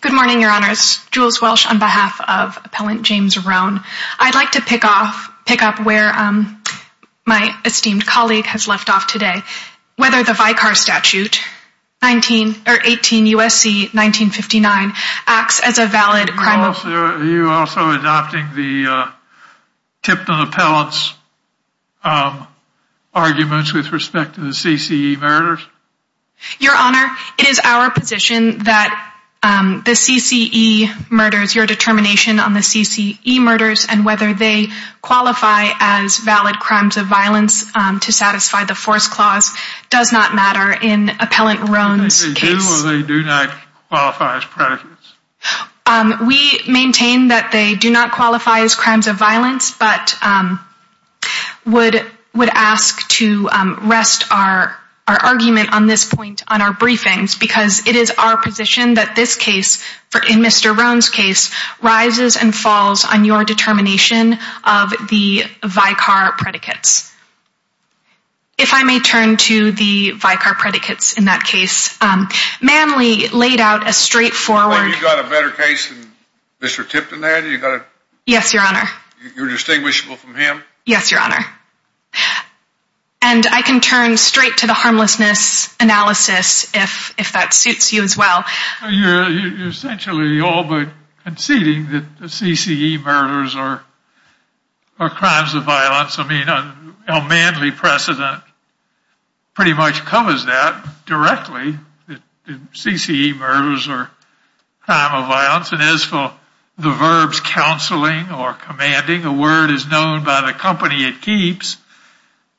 Good morning, Your Honors. Jules Welsh on behalf of Appellant James Roane. I'd like to pick up where my esteemed colleague has left off today. Whether the Vicar Statute 18 U.S.C. 1959 acts as a valid crime of... Are you also adopting the Tipton Appellant's arguments with respect to the CCE murders? Your Honor, it is our position that the CCE murders, your determination on the CCE murders and whether they qualify as valid crimes of violence to satisfy the Force Clause does not matter in Appellant Roane's case. Do they do or do they not qualify as predicates? We maintain that they do not qualify as crimes of violence, but would ask to rest our argument on this point on our briefings because it is our position that this case, in Mr. Roane's case, rises and falls on your determination of the Vicar predicates. If I may turn to the Vicar predicates in that case. Manley laid out a straightforward... Have you got a better case than Mr. Tipton there? Yes, Your Honor. You're distinguishable from him? Yes, Your Honor. And I can turn straight to the harmlessness analysis if that suits you as well. You're essentially all but conceding that the CCE murders are crimes of violence. I mean, a Manley precedent pretty much covers that directly. CCE murders are crime of violence and as for the verbs counseling or commanding, a word is known by the company it keeps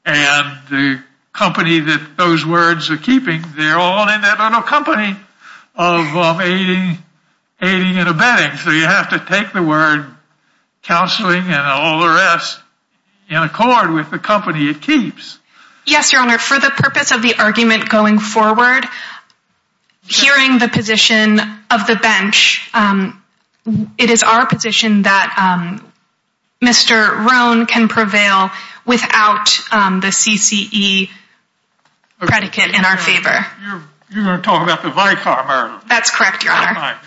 and the company that those words are keeping, they're all in that company of aiding and abetting. So you have to take the word counseling and all the rest in accord with the company it keeps. Yes, Your Honor. For the purpose of the argument going forward, hearing the position of the bench, it is our position that Mr. Roane can prevail without the CCE predicate in our favor. You're talking about the Vicar murder. That's correct, Your Honor.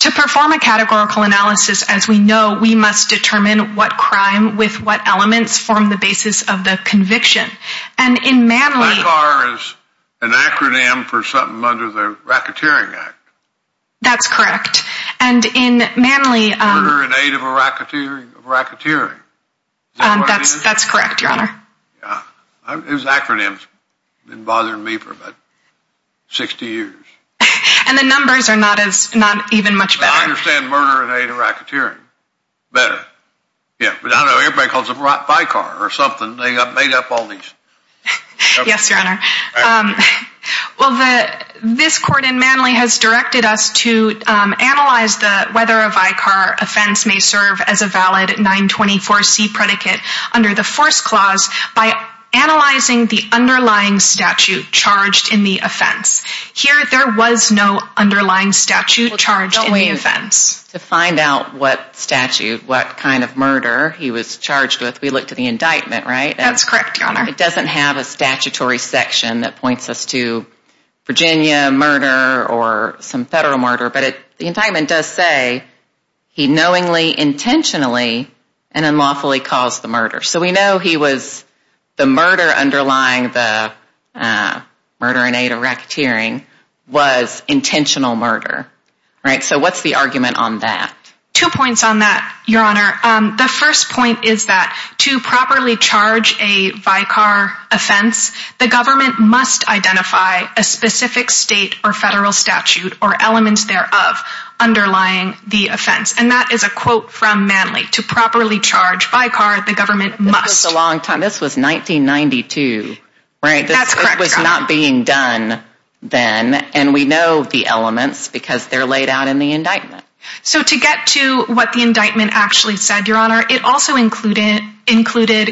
To perform a categorical analysis, as we know, we must determine what crime with what elements form the basis of the conviction. And in Manley... Vicar is an acronym for something under the Racketeering Act. That's correct. And in Manley... Murder in aid of a racketeering. That's correct, Your Honor. Those acronyms have been bothering me for about 60 years. And the numbers are not even much better. I understand murder in aid of racketeering better. Yeah, but I don't know, everybody calls it Vicar or something. They got made up all these... Well, this court in Manley has directed us to analyze whether a Vicar offense may serve as a valid 924C predicate under the first clause by analyzing the underlying statute charged in the offense. Here, there was no underlying statute charged in the offense. To find out what statute, what kind of murder he was charged with, we looked at the indictment, right? That's correct, Your Honor. It doesn't have a statutory section that points us to Virginia murder or some federal murder. But the indictment does say he knowingly, intentionally, and unlawfully caused the murder. So we know he was, the murder underlying the murder in aid of racketeering was intentional murder. Right? So what's the argument on that? Two points on that, Your Honor. The first point is that to properly charge a Vicar offense, the government must identify a specific state or federal statute or elements thereof underlying the offense. And that is a quote from Manley. To properly charge Vicar, the government must... This was a long time. This was 1992, right? That's correct, Your Honor. It was not being done then, and we know the elements because they're laid out in the indictment. So to get to what the indictment actually said, Your Honor, it also included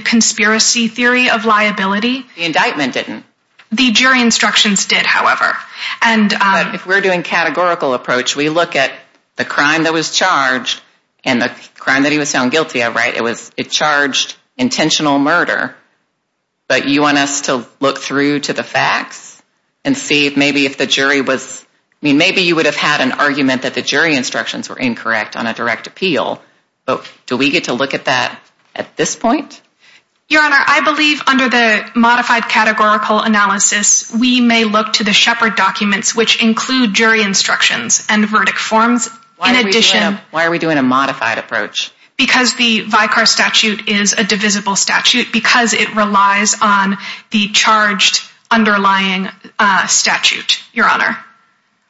conspiracy theory of liability. The indictment didn't. The jury instructions did, however. If we're doing categorical approach, we look at the crime that was charged and the crime that he was found guilty of, right? It charged intentional murder. But you want us to look through to the facts and see if maybe if the jury was... I mean, maybe you would have had an argument that the jury instructions were incorrect on a direct appeal. But do we get to look at that at this point? Your Honor, I believe under the modified categorical analysis, we may look to the Shepard documents, which include jury instructions and verdict forms. In addition... Why are we doing a modified approach? Because the Vicar statute is a divisible statute because it relies on the charged underlying statute, Your Honor.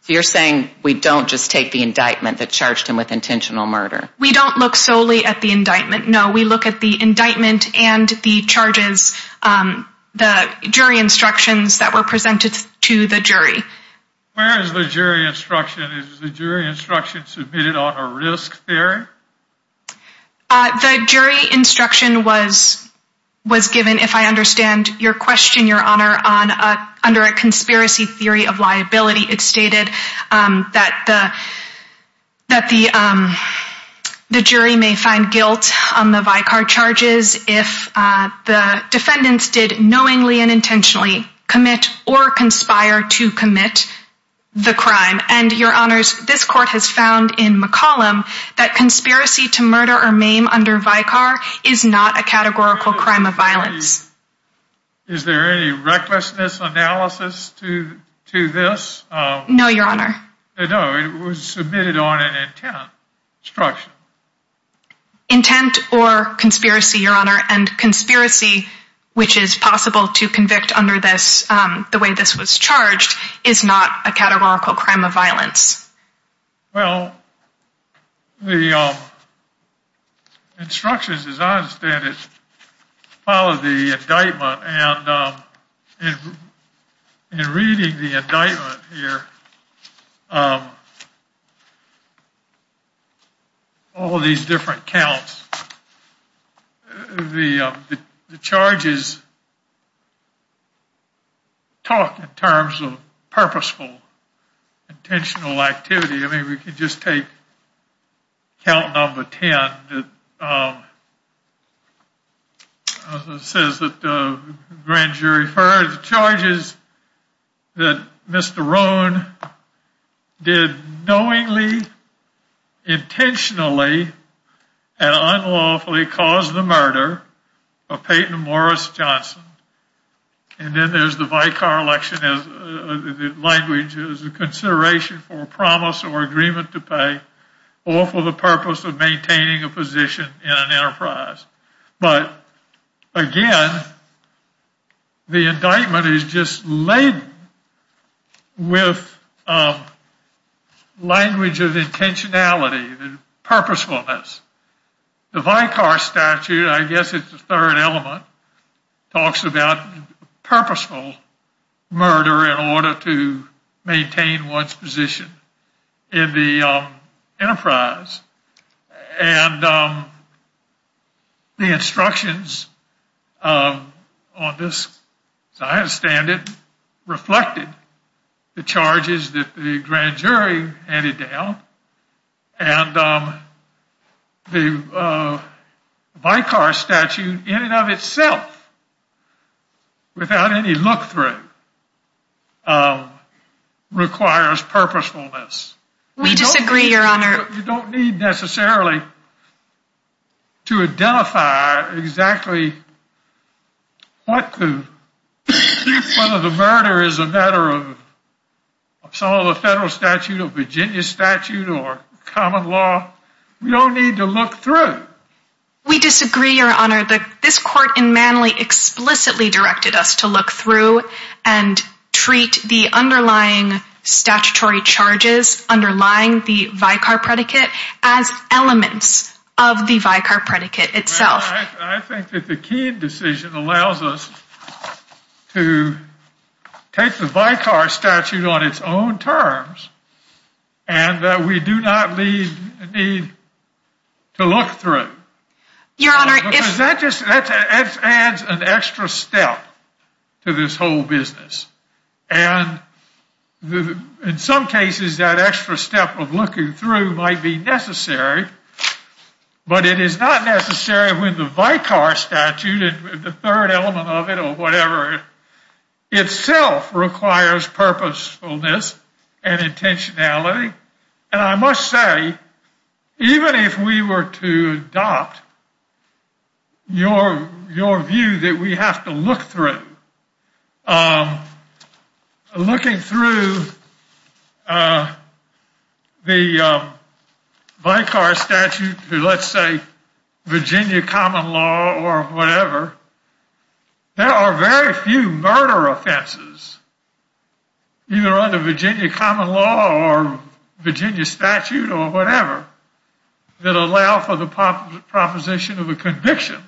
You're saying we don't just take the indictment that charged him with intentional murder? We don't look solely at the indictment. No, we look at the indictment and the charges, the jury instructions that were presented to the jury. Where is the jury instruction? Is the jury instruction submitted on a risk theory? The jury instruction was given, if I understand your question, Your Honor, under a conspiracy theory of liability. It stated that the jury may find guilt on the Vicar charges if the defendants did knowingly and intentionally commit or conspire to commit the crime. Your Honor, this court has found in McCollum that conspiracy to murder or maim under Vicar is not a categorical crime of violence. Is there any recklessness analysis to this? No, Your Honor. No, it was submitted on an intent instruction. Intent or conspiracy, Your Honor, and conspiracy, which is possible to convict under this, the way this was charged, is not a categorical crime of violence. Well, the instructions, as I understand it, follow the indictment, and in reading the indictment here, all these different counts, the charges talk in terms of purposeful, intentional activity. I mean, we can just take count number 10. It says that the grand jury heard the charges that Mr. Rohn did knowingly, intentionally, and unlawfully cause the murder of Peyton Morris Johnson. And then there's the Vicar election, the language is a consideration for promise or agreement to pay, or for the purpose of maintaining a position in an enterprise. But, again, the indictment is just laden with language of intentionality and purposefulness. The Vicar statute, I guess it's the third element, talks about purposeful murder in order to maintain one's position in the enterprise. And the instructions on this, as I understand it, reflected the charges that the grand jury handed down. And the Vicar statute, in and of itself, without any look through, requires purposefulness. We disagree, your honor. You don't need necessarily to identify exactly what the, whether the murder is a matter of some of the federal statute or Virginia statute or common law. We don't need to look through. We disagree, your honor. This court in Manly explicitly directed us to look through and treat the underlying statutory charges underlying the Vicar predicate as elements of the Vicar predicate itself. I think that the Keene decision allows us to take the Vicar statute on its own terms and that we do not need to look through. Your honor, if... The Vicar statute, the third element of it or whatever, itself requires purposefulness and intentionality. And I must say, even if we were to adopt your view that we have to look through, looking through the Vicar statute, let's say Virginia common law or whatever, there are very few murder offenses, either under Virginia common law or Virginia statute or whatever, that allow for the proposition of a conviction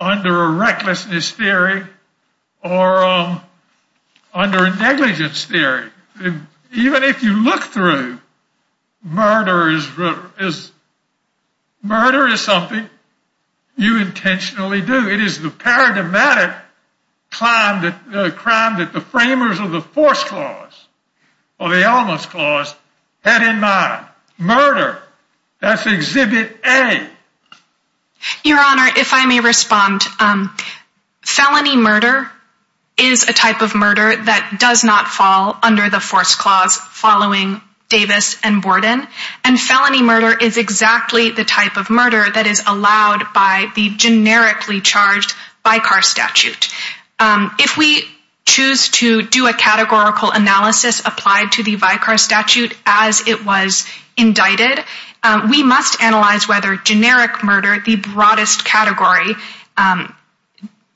under a recklessness theory or under a negligence theory. Even if you look through, murder is something you intentionally do. It is the paradigmatic crime that the framers of the force clause or the elements clause had in mind. Murder, that's exhibit A. Your honor, if I may respond, felony murder is a type of murder that does not fall under the force clause following Davis and Borden. And felony murder is exactly the type of murder that is allowed by the generically charged Vicar statute. If we choose to do a categorical analysis applied to the Vicar statute as it was indicted, we must analyze whether generic murder, the broadest category,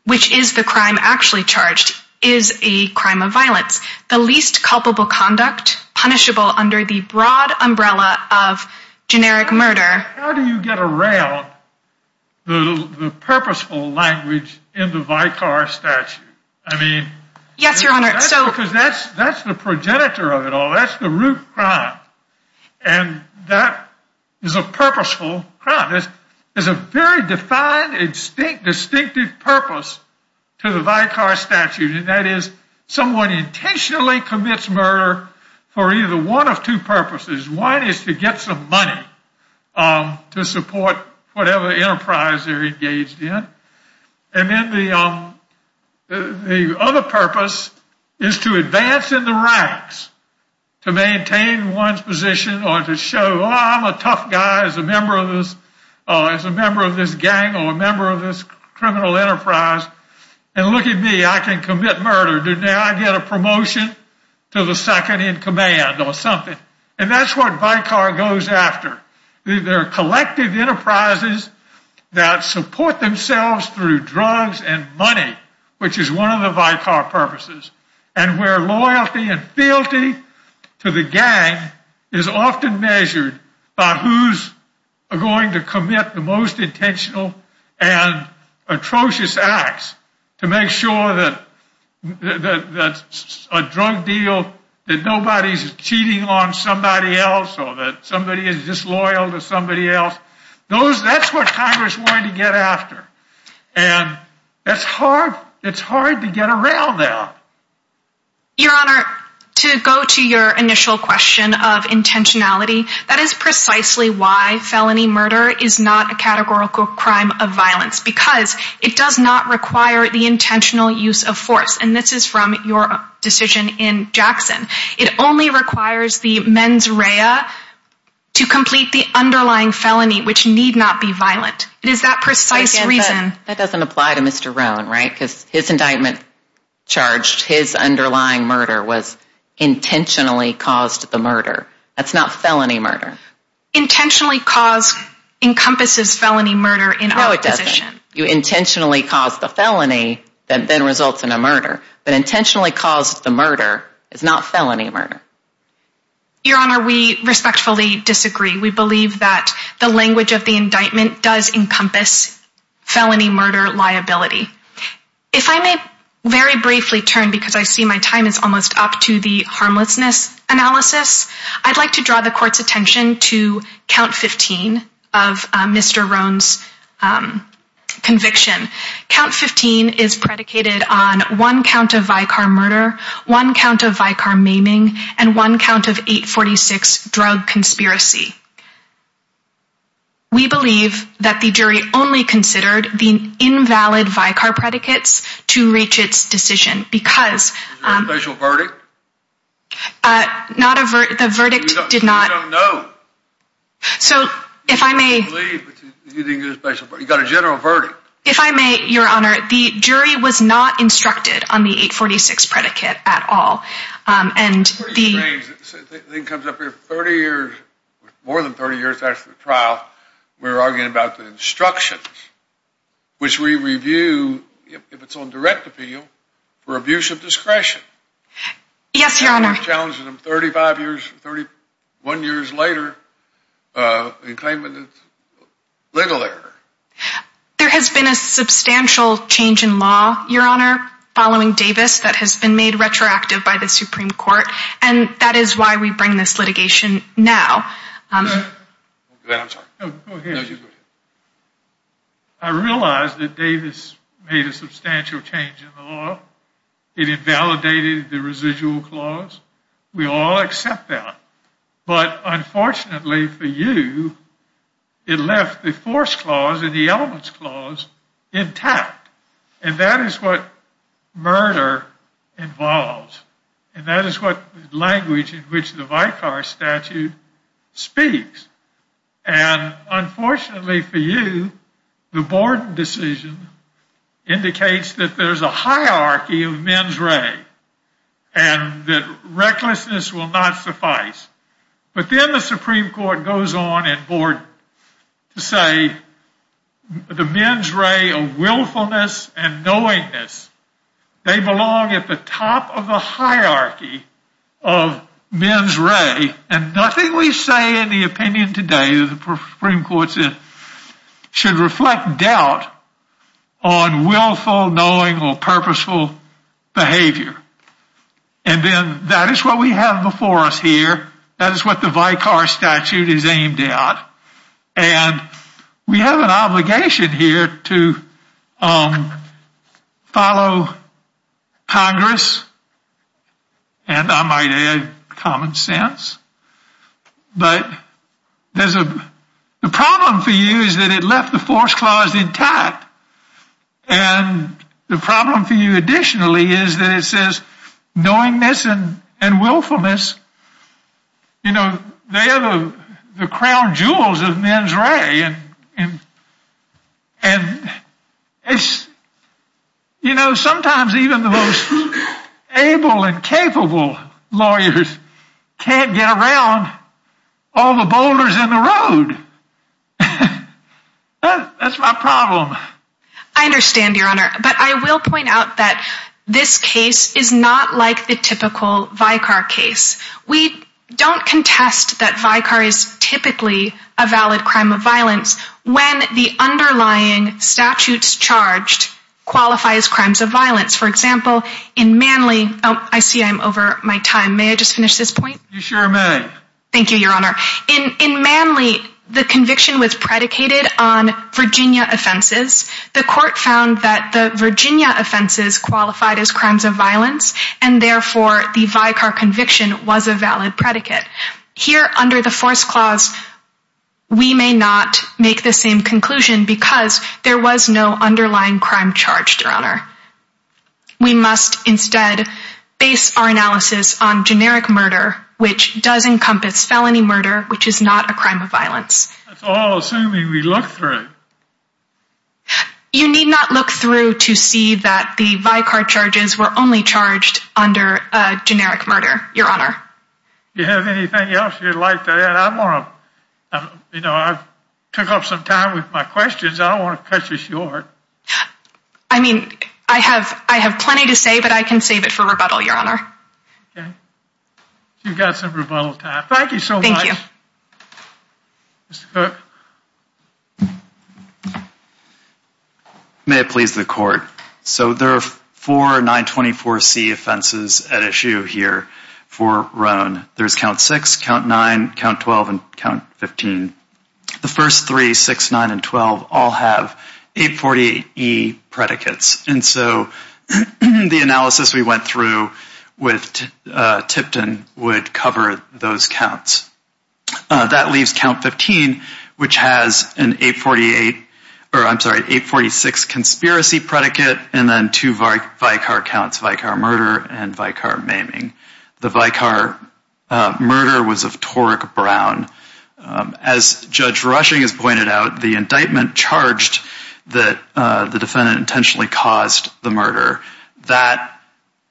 which is the crime actually charged, is a crime of violence. The least culpable conduct, punishable under the broad umbrella of generic murder... How do you get around the purposeful language in the Vicar statute? I mean... Yes, your honor. Because that's the progenitor of it all. That's the root crime. And that is a purposeful crime. There's a very defined, distinct, distinctive purpose to the Vicar statute, and that is someone intentionally commits murder for either one of two purposes. One is to get some money to support whatever enterprise they're engaged in. And then the other purpose is to advance in the ranks to maintain one's position or to show, oh, I'm a tough guy as a member of this gang or a member of this criminal enterprise. And look at me, I can commit murder. Did I get a promotion to the second in command or something? And that's what Vicar goes after. They're collective enterprises that support themselves through drugs and money, which is one of the Vicar purposes. And where loyalty and fealty to the gang is often measured by who's going to commit the most intentional and atrocious acts to make sure that a drug deal, that nobody's cheating on somebody else or that somebody is disloyal to somebody else. That's what Congress wanted to get after. And it's hard to get around that. Your Honor, to go to your initial question of intentionality, that is precisely why felony murder is not a categorical crime of violence because it does not require the intentional use of force. And this is from your decision in Jackson. It only requires the mens rea to complete the underlying felony, which need not be violent. It is that precise reason. That doesn't apply to Mr. Roan, right? Because his indictment charged, his underlying murder was intentionally caused the murder. That's not felony murder. Intentionally caused encompasses felony murder in our position. No, it doesn't. You intentionally caused the felony that then results in a murder. But intentionally caused the murder is not felony murder. Your Honor, we respectfully disagree. We believe that the language of the indictment does encompass felony murder liability. If I may very briefly turn because I see my time is almost up to the harmlessness analysis. I'd like to draw the court's attention to count 15 of Mr. Roan's conviction. Count 15 is predicated on one count of Vicar murder, one count of Vicar maiming, and one count of 846 drug conspiracy. We believe that the jury only considered the invalid Vicar predicates to reach its decision. Because... Is there a special verdict? The verdict did not... We don't know. So, if I may... You didn't get a special verdict. You got a general verdict. If I may, Your Honor, the jury was not instructed on the 846 predicate at all. And the... The thing comes up here, 30 years, more than 30 years after the trial, we're arguing about the instructions. Which we review, if it's on direct appeal, for abuse of discretion. Yes, Your Honor. Challenging them 35 years, 31 years later, and claiming it's legal error. There has been a substantial change in law, Your Honor, following Davis, that has been made retroactive by the Supreme Court. And that is why we bring this litigation now. I'm sorry. Go ahead. I realize that Davis made a substantial change in the law. It invalidated the residual clause. We all accept that. But, unfortunately for you, it left the force clause and the elements clause intact. And that is what murder involves. And that is what language in which the Vicar Statute speaks. And, unfortunately for you, the Borden decision indicates that there's a hierarchy of mens rea. And that recklessness will not suffice. But then the Supreme Court goes on at Borden to say the mens rea of willfulness and knowingness, they belong at the top of the hierarchy of mens rea. And nothing we say in the opinion today of the Supreme Court should reflect doubt on willful, knowing, or purposeful behavior. And then that is what we have before us here. That is what the Vicar Statute is aimed at. And we have an obligation here to follow Congress. And I might add common sense. But the problem for you is that it left the force clause intact. And the problem for you additionally is that it says knowingness and willfulness, you know, they are the crown jewels of mens rea. And, you know, sometimes even the most able and capable lawyers can't get around all the boulders in the road. That's my problem. I understand, Your Honor. But I will point out that this case is not like the typical Vicar case. We don't contest that Vicar is typically a valid crime of violence when the underlying statutes charged qualify as crimes of violence. For example, in Manly, I see I'm over my time. May I just finish this point? You sure may. Thank you, Your Honor. In Manly, the conviction was predicated on Virginia offenses. The court found that the Virginia offenses qualified as crimes of violence. And therefore, the Vicar conviction was a valid predicate. Here under the force clause, we may not make the same conclusion because there was no underlying crime charged, Your Honor. We must instead base our analysis on generic murder, which does encompass felony murder, which is not a crime of violence. That's all assuming we look through. You need not look through to see that the Vicar charges were only charged under generic murder, Your Honor. Do you have anything else you'd like to add? I want to, you know, I took up some time with my questions. I don't want to cut you short. I mean, I have plenty to say, but I can save it for rebuttal, Your Honor. Okay. You've got some rebuttal time. Thank you so much. Thank you. Mr. Cook. May it please the court. So there are four 924C offenses at issue here for Roan. There's count six, count nine, count 12, and count 15. The first three, six, nine, and 12, all have 848E predicates. And so the analysis we went through with Tipton would cover those counts. That leaves count 15, which has an 848, or I'm sorry, 846 conspiracy predicate, and then two Vicar counts, Vicar murder and Vicar maiming. The Vicar murder was of Torek Brown. As Judge Rushing has pointed out, the indictment charged that the defendant intentionally caused the murder. That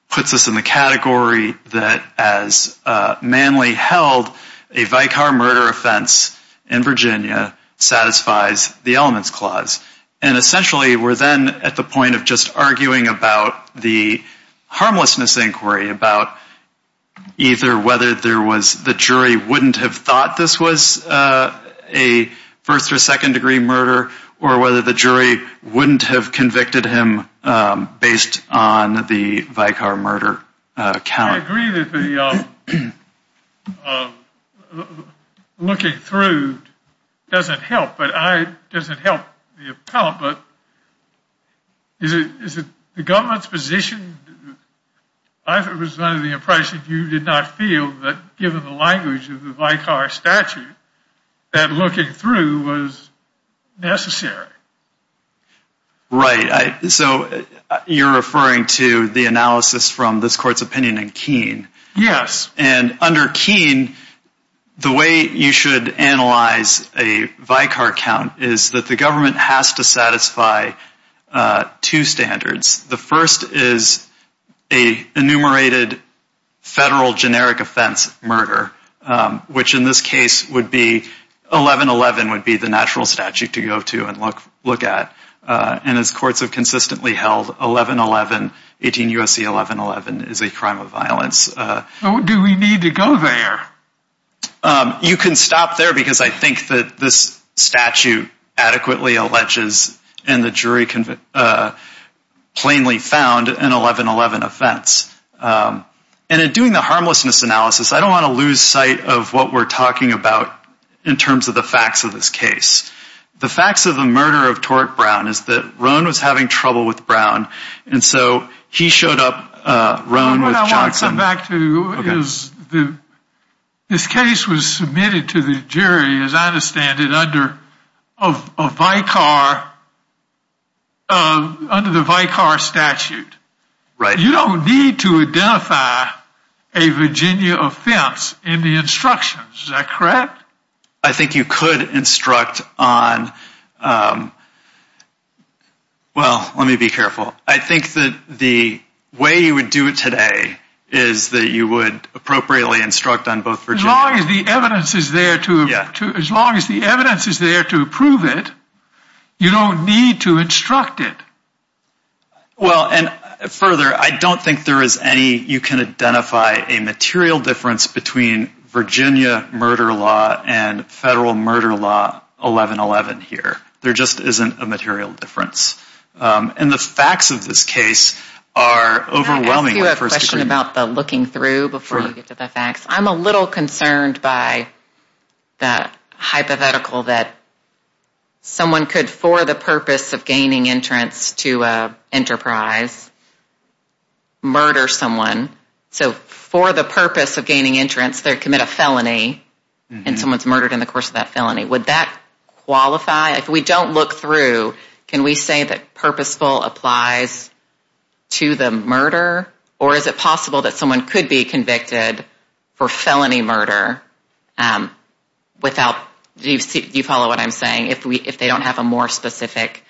puts us in the category that as manly held, a Vicar murder offense in Virginia satisfies the elements clause. And essentially we're then at the point of just arguing about the harmlessness inquiry, about either whether there was the jury wouldn't have thought this was a first or second degree murder, or whether the jury wouldn't have convicted him based on the Vicar murder count. I agree that the looking through doesn't help. It doesn't help the appellate, but is it the government's position? I was under the impression you did not feel that given the language of the Vicar statute, that looking through was necessary. Right, so you're referring to the analysis from this court's opinion in Keene. Yes. And under Keene, the way you should analyze a Vicar count is that the government has to satisfy two standards. The first is an enumerated federal generic offense murder, which in this case 1111 would be the natural statute to go to and look at. And as courts have consistently held, 1111, 18 U.S.C. 1111, is a crime of violence. Do we need to go there? You can stop there because I think that this statute adequately alleges in the jury plainly found an 1111 offense. And in doing the harmlessness analysis, I don't want to lose sight of what we're talking about in terms of the facts of this case. The facts of the murder of Torrick Brown is that Roan was having trouble with Brown, and so he showed up, Roan with Johnson. What I want to come back to is this case was submitted to the jury, as I understand it, under a Vicar, under the Vicar statute. Right. So you don't need to identify a Virginia offense in the instructions, is that correct? I think you could instruct on, well, let me be careful. I think that the way you would do it today is that you would appropriately instruct on both Virginias. As long as the evidence is there to prove it, you don't need to instruct it. Well, and further, I don't think there is any, you can identify a material difference between Virginia murder law and federal murder law 1111 here. There just isn't a material difference. And the facts of this case are overwhelming. Can I ask you a question about the looking through before we get to the facts? I'm a little concerned by the hypothetical that someone could, for the purpose of gaining entrance to an enterprise, murder someone. So for the purpose of gaining entrance, they commit a felony, and someone is murdered in the course of that felony. Would that qualify? If we don't look through, can we say that purposeful applies to the murder? Or is it possible that someone could be convicted for felony murder without, do you follow what I'm saying, if they don't have a more specific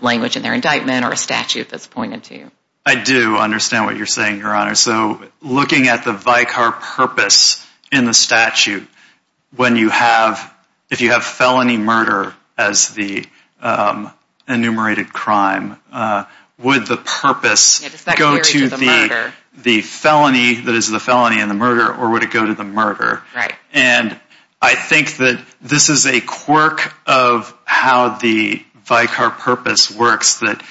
language in their indictment or a statute that's pointed to? I do understand what you're saying, Your Honor. So looking at the vicar purpose in the statute, when you have, if you have felony murder as the enumerated crime, would the purpose go to the felony that is the felony in the murder, or would it go to the murder? Right. And I think that this is a quirk of how the vicar purpose works, that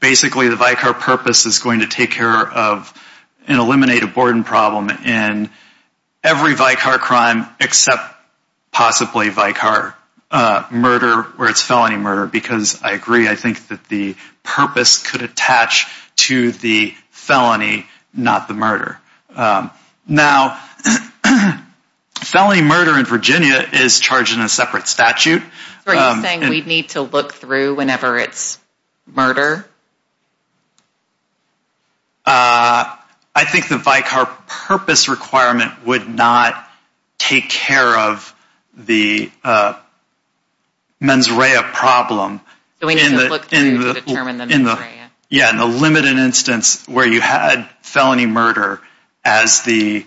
basically the vicar purpose is going to take care of and eliminate a Borden problem in every vicar crime except possibly vicar murder where it's felony murder. Because I agree, I think that the purpose could attach to the felony, not the murder. Now, felony murder in Virginia is charged in a separate statute. So are you saying we need to look through whenever it's murder? I think the vicar purpose requirement would not take care of the mens rea problem. So we need to look through to determine the mens rea. Yeah, and the limited instance where you had felony murder as the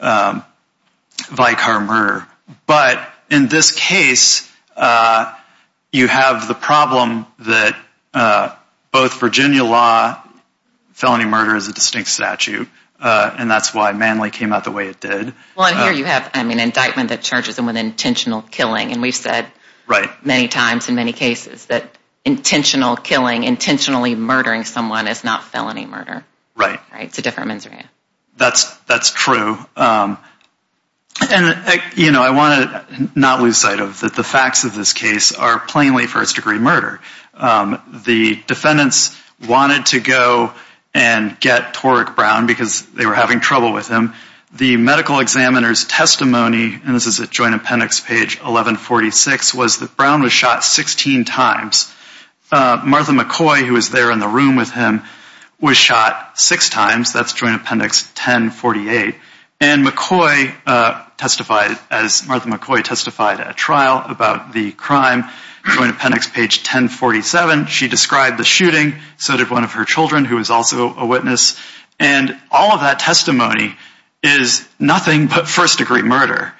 vicar murder. But in this case, you have the problem that both Virginia law, felony murder is a distinct statute, and that's why Manly came out the way it did. Well, and here you have an indictment that charges them with intentional killing, and we've said many times in many cases that intentional killing, intentionally murdering someone is not felony murder. Right. It's a different mens rea. That's true. And I want to not lose sight of the facts of this case are plainly first-degree murder. The defendants wanted to go and get Torek Brown because they were having trouble with him. The medical examiner's testimony, and this is at Joint Appendix Page 1146, was that Brown was shot 16 times. Martha McCoy, who was there in the room with him, was shot six times. That's Joint Appendix 1048. And McCoy testified, as Martha McCoy testified at trial about the crime, Joint Appendix Page 1047. She described the shooting. So did one of her children, who was also a witness. And all of that testimony is nothing but first-degree murder.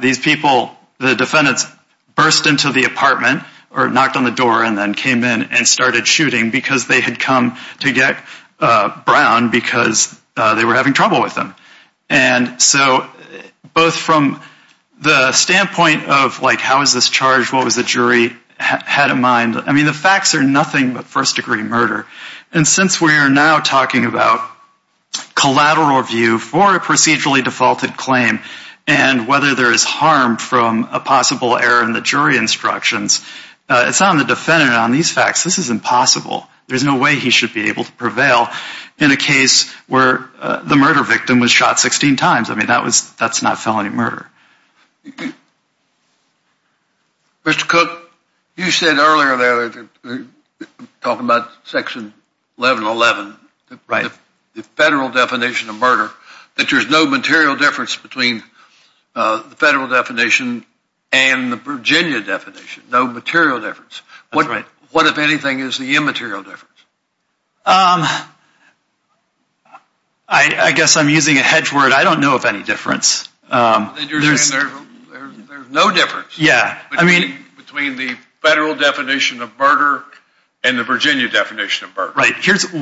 These people, the defendants, burst into the apartment or knocked on the door and then came in and started shooting because they had come to get Brown because they were having trouble with him. And so both from the standpoint of, like, how is this charged? What was the jury had in mind? I mean, the facts are nothing but first-degree murder. And since we are now talking about collateral review for a procedurally defaulted claim and whether there is harm from a possible error in the jury instructions, it's on the defendant on these facts. This is impossible. There's no way he should be able to prevail in a case where the murder victim was shot 16 times. I mean, that's not felony murder. Mr. Cook, you said earlier that, talking about Section 1111, the federal definition of murder, that there's no material difference between the federal definition and the Virginia definition. No material difference. That's right. What, if anything, is the immaterial difference? I guess I'm using a hedge word. I don't know of any difference. You're saying there's no difference between the federal definition of murder and the Virginia definition of murder. Right. There's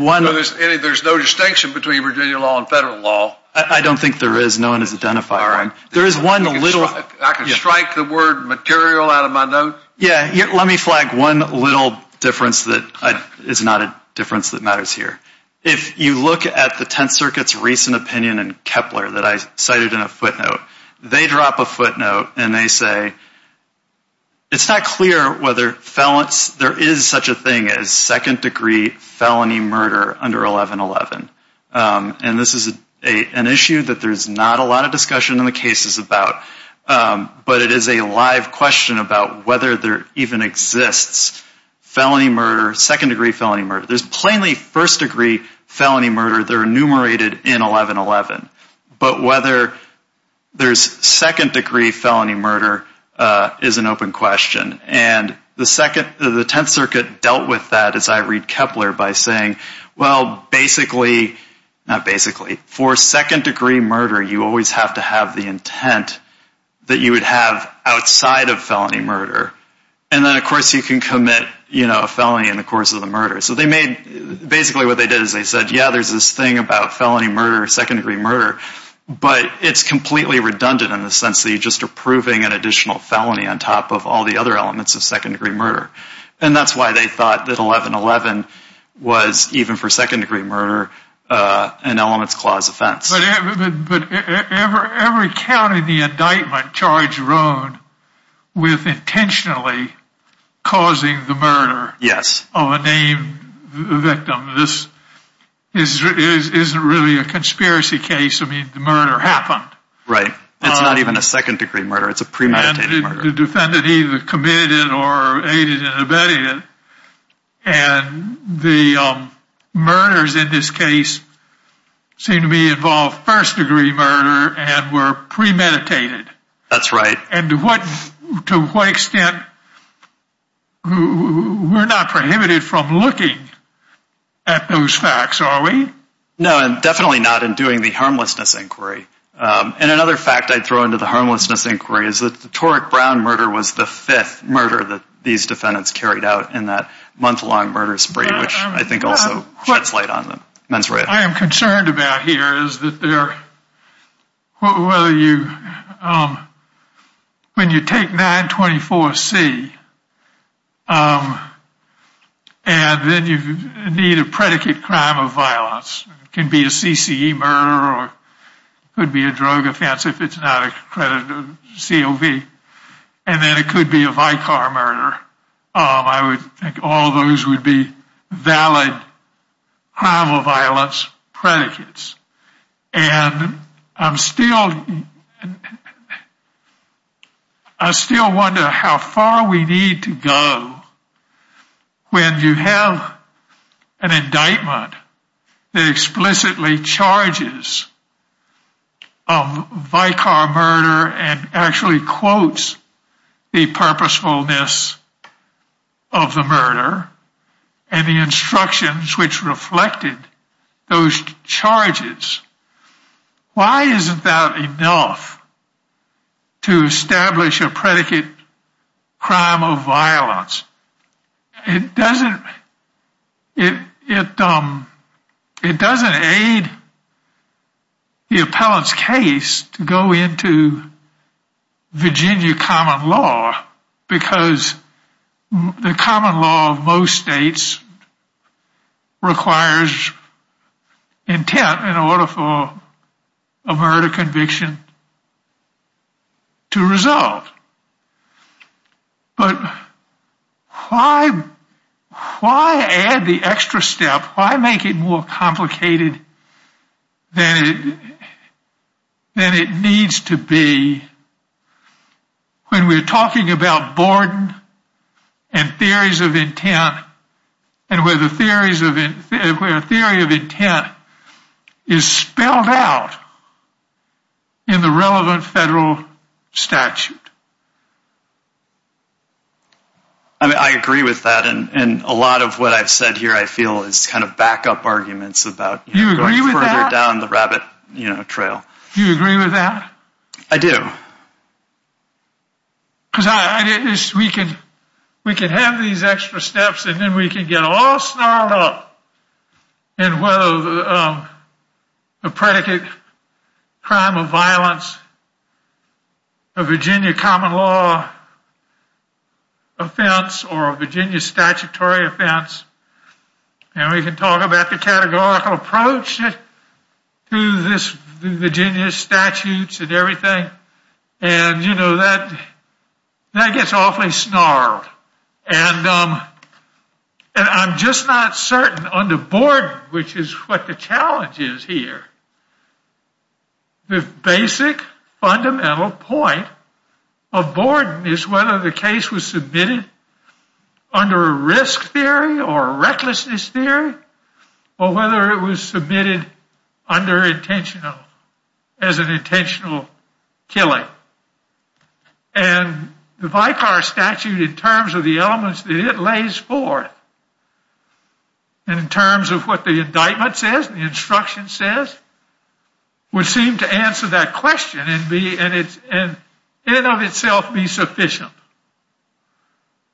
no distinction between Virginia law and federal law. I don't think there is. No one has identified one. All right. I can strike the word material out of my notes. Yeah. Let me flag one little difference that is not a difference that matters here. If you look at the Tenth Circuit's recent opinion in Kepler that I cited in a footnote, they drop a footnote and they say, it's not clear whether there is such a thing as second-degree felony murder under 1111. And this is an issue that there's not a lot of discussion in the cases about, but it is a live question about whether there even exists felony murder, second-degree felony murder. There's plainly first-degree felony murder that are enumerated in 1111. But whether there's second-degree felony murder is an open question. And the Tenth Circuit dealt with that, as I read Kepler, by saying, well, basically, not basically, for second-degree murder, you always have to have the intent that you would have outside of felony murder. And then, of course, you can commit a felony in the course of the murder. So basically what they did is they said, yeah, there's this thing about felony murder, second-degree murder, but it's completely redundant in the sense that you're just approving an additional felony on top of all the other elements of second-degree murder. And that's why they thought that 1111 was, even for second-degree murder, an Elements Clause offense. But every count in the indictment charged Roan with intentionally causing the murder of a named victim. This isn't really a conspiracy case. I mean, the murder happened. Right. It's not even a second-degree murder. It's a premeditated murder. The defendant either committed it or aided in abetting it. And the murders in this case seem to be involved first-degree murder and were premeditated. That's right. And to what extent, we're not prohibited from looking at those facts, are we? No, and definitely not in doing the harmlessness inquiry. And another fact I'd throw into the harmlessness inquiry is that the Torrick Brown murder was the fifth murder that these defendants carried out in that month-long murder spree, which I think also sheds light on the mens rea. What I am concerned about here is that when you take 924C and then you need a predicate crime of violence, it can be a CCE murder or it could be a drug offense if it's not accredited COV. And then it could be a Vicar murder. I would think all those would be valid crime of violence predicates. And I still wonder how far we need to go when you have an indictment that explicitly charges a Vicar murder and actually quotes the purposefulness of the murder and the instructions which reflected those charges. Why isn't that enough to establish a predicate crime of violence? It doesn't aid the appellant's case to go into Virginia common law because the common law of most states requires intent in order for a murder conviction to result. But why add the extra step? Why make it more complicated than it needs to be when we're talking about boredom and theories of intent and where the theory of intent is spelled out in the relevant federal statute. I agree with that and a lot of what I've said here I feel is kind of backup arguments about going further down the rabbit trail. Do you agree with that? I do. Because we can have these extra steps and then we can get all snarled up in whether a predicate crime of violence, a Virginia common law offense, or a Virginia statutory offense. And we can talk about the categorical approach to the Virginia statutes and everything. And you know that gets awfully snarled. And I'm just not certain on the board which is what the challenge is here. The basic fundamental point of boredom is whether the case was submitted under a risk theory or a recklessness theory or whether it was submitted under intentional as an intentional killing. And the Vicar statute in terms of the elements that it lays forth and in terms of what the indictment says, the instruction says, would seem to answer that question and in and of itself be sufficient.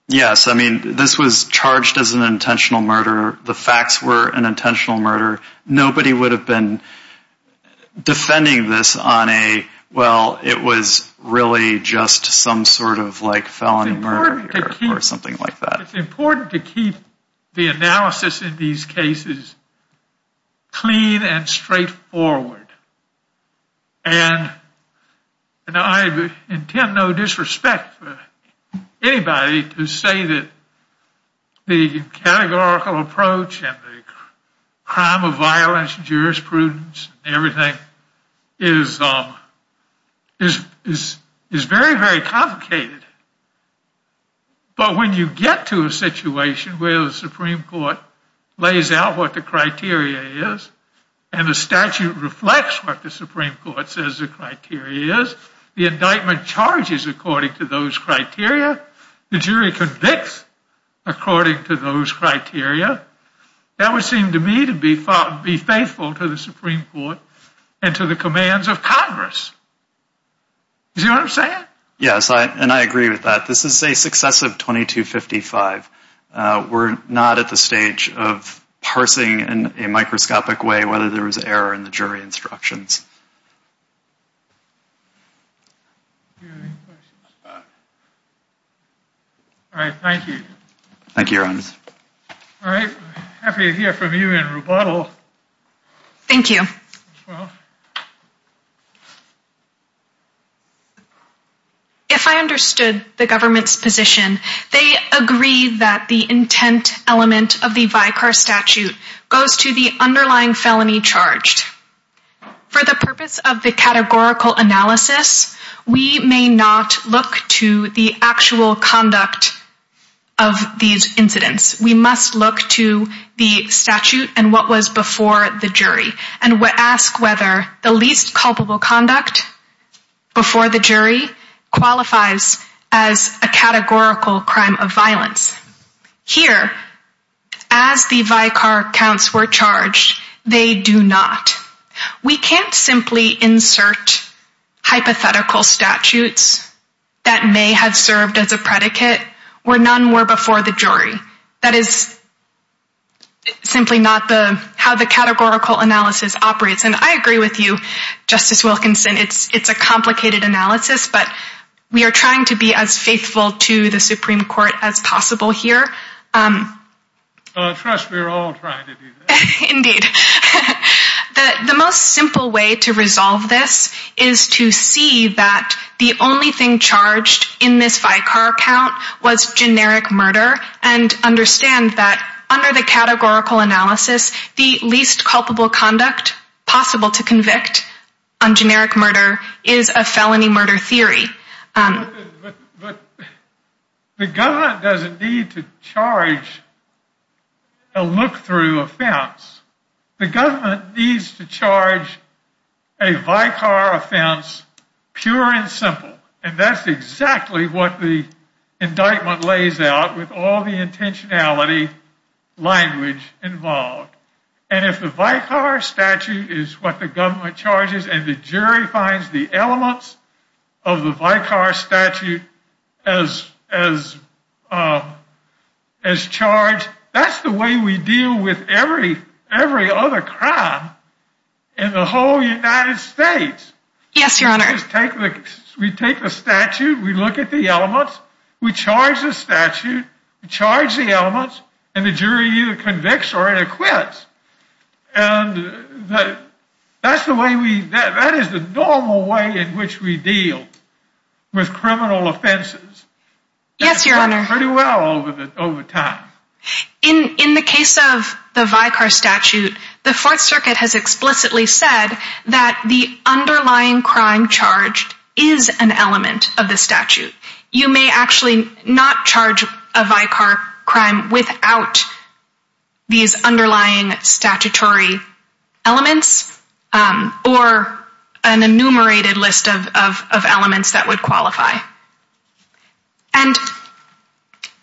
Yes, I mean this was charged as an intentional murder. The facts were an intentional murder. Nobody would have been defending this on a well it was really just some sort of like felony murder or something like that. But it's important to keep the analysis in these cases clean and straightforward. And I intend no disrespect for anybody to say that the categorical approach and the crime of violence jurisprudence and everything is very, very complicated. But when you get to a situation where the Supreme Court lays out what the criteria is and the statute reflects what the Supreme Court says the criteria is, the indictment charges according to those criteria, the jury convicts according to those criteria, that would seem to me to be faithful to the Supreme Court and to the commands of Congress. Do you see what I'm saying? Yes, and I agree with that. This is a successive 2255. We're not at the stage of parsing in a microscopic way whether there was error in the jury instructions. All right, thank you. Thank you, Your Honor. All right, happy to hear from you in rebuttal. Thank you. Thank you. If I understood the government's position, they agree that the intent element of the Vicar statute goes to the underlying felony charged. For the purpose of the categorical analysis, we may not look to the actual conduct of these incidents. We must look to the statute and what was before the jury, and ask whether the least culpable conduct before the jury qualifies as a categorical crime of violence. Here, as the Vicar counts were charged, they do not. We can't simply insert hypothetical statutes that may have served as a predicate where none were before the jury. That is simply not how the categorical analysis operates, and I agree with you, Justice Wilkinson. It's a complicated analysis, but we are trying to be as faithful to the Supreme Court as possible here. Trust me, we're all trying to do that. Indeed. The most simple way to resolve this is to see that the only thing charged in this Vicar count was generic murder, and understand that under the categorical analysis, the least culpable conduct possible to convict on generic murder is a felony murder theory. The government doesn't need to charge a look-through offense. The government needs to charge a Vicar offense, pure and simple. And that's exactly what the indictment lays out with all the intentionality language involved. And if the Vicar statute is what the government charges, and the jury finds the elements of the Vicar statute as charged, that's the way we deal with every other crime in the whole United States. Yes, Your Honor. We take the statute, we look at the elements, we charge the statute, we charge the elements, and the jury either convicts or acquits. And that is the normal way in which we deal with criminal offenses. Yes, Your Honor. And it's worked pretty well over time. In the case of the Vicar statute, the Fourth Circuit has explicitly said that the underlying crime charged is an element of the statute. You may actually not charge a Vicar crime without these underlying statutory elements, or an enumerated list of elements that would qualify. And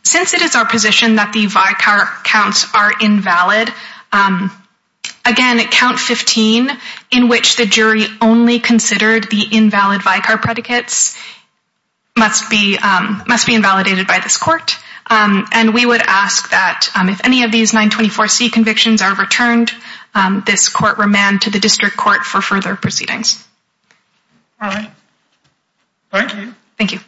since it is our position that the Vicar counts are invalid, again, count 15, in which the jury only considered the invalid Vicar predicates, must be invalidated by this court. And we would ask that if any of these 924C convictions are returned, this court remand to the district court for further proceedings. All right. Thank you. Thank you.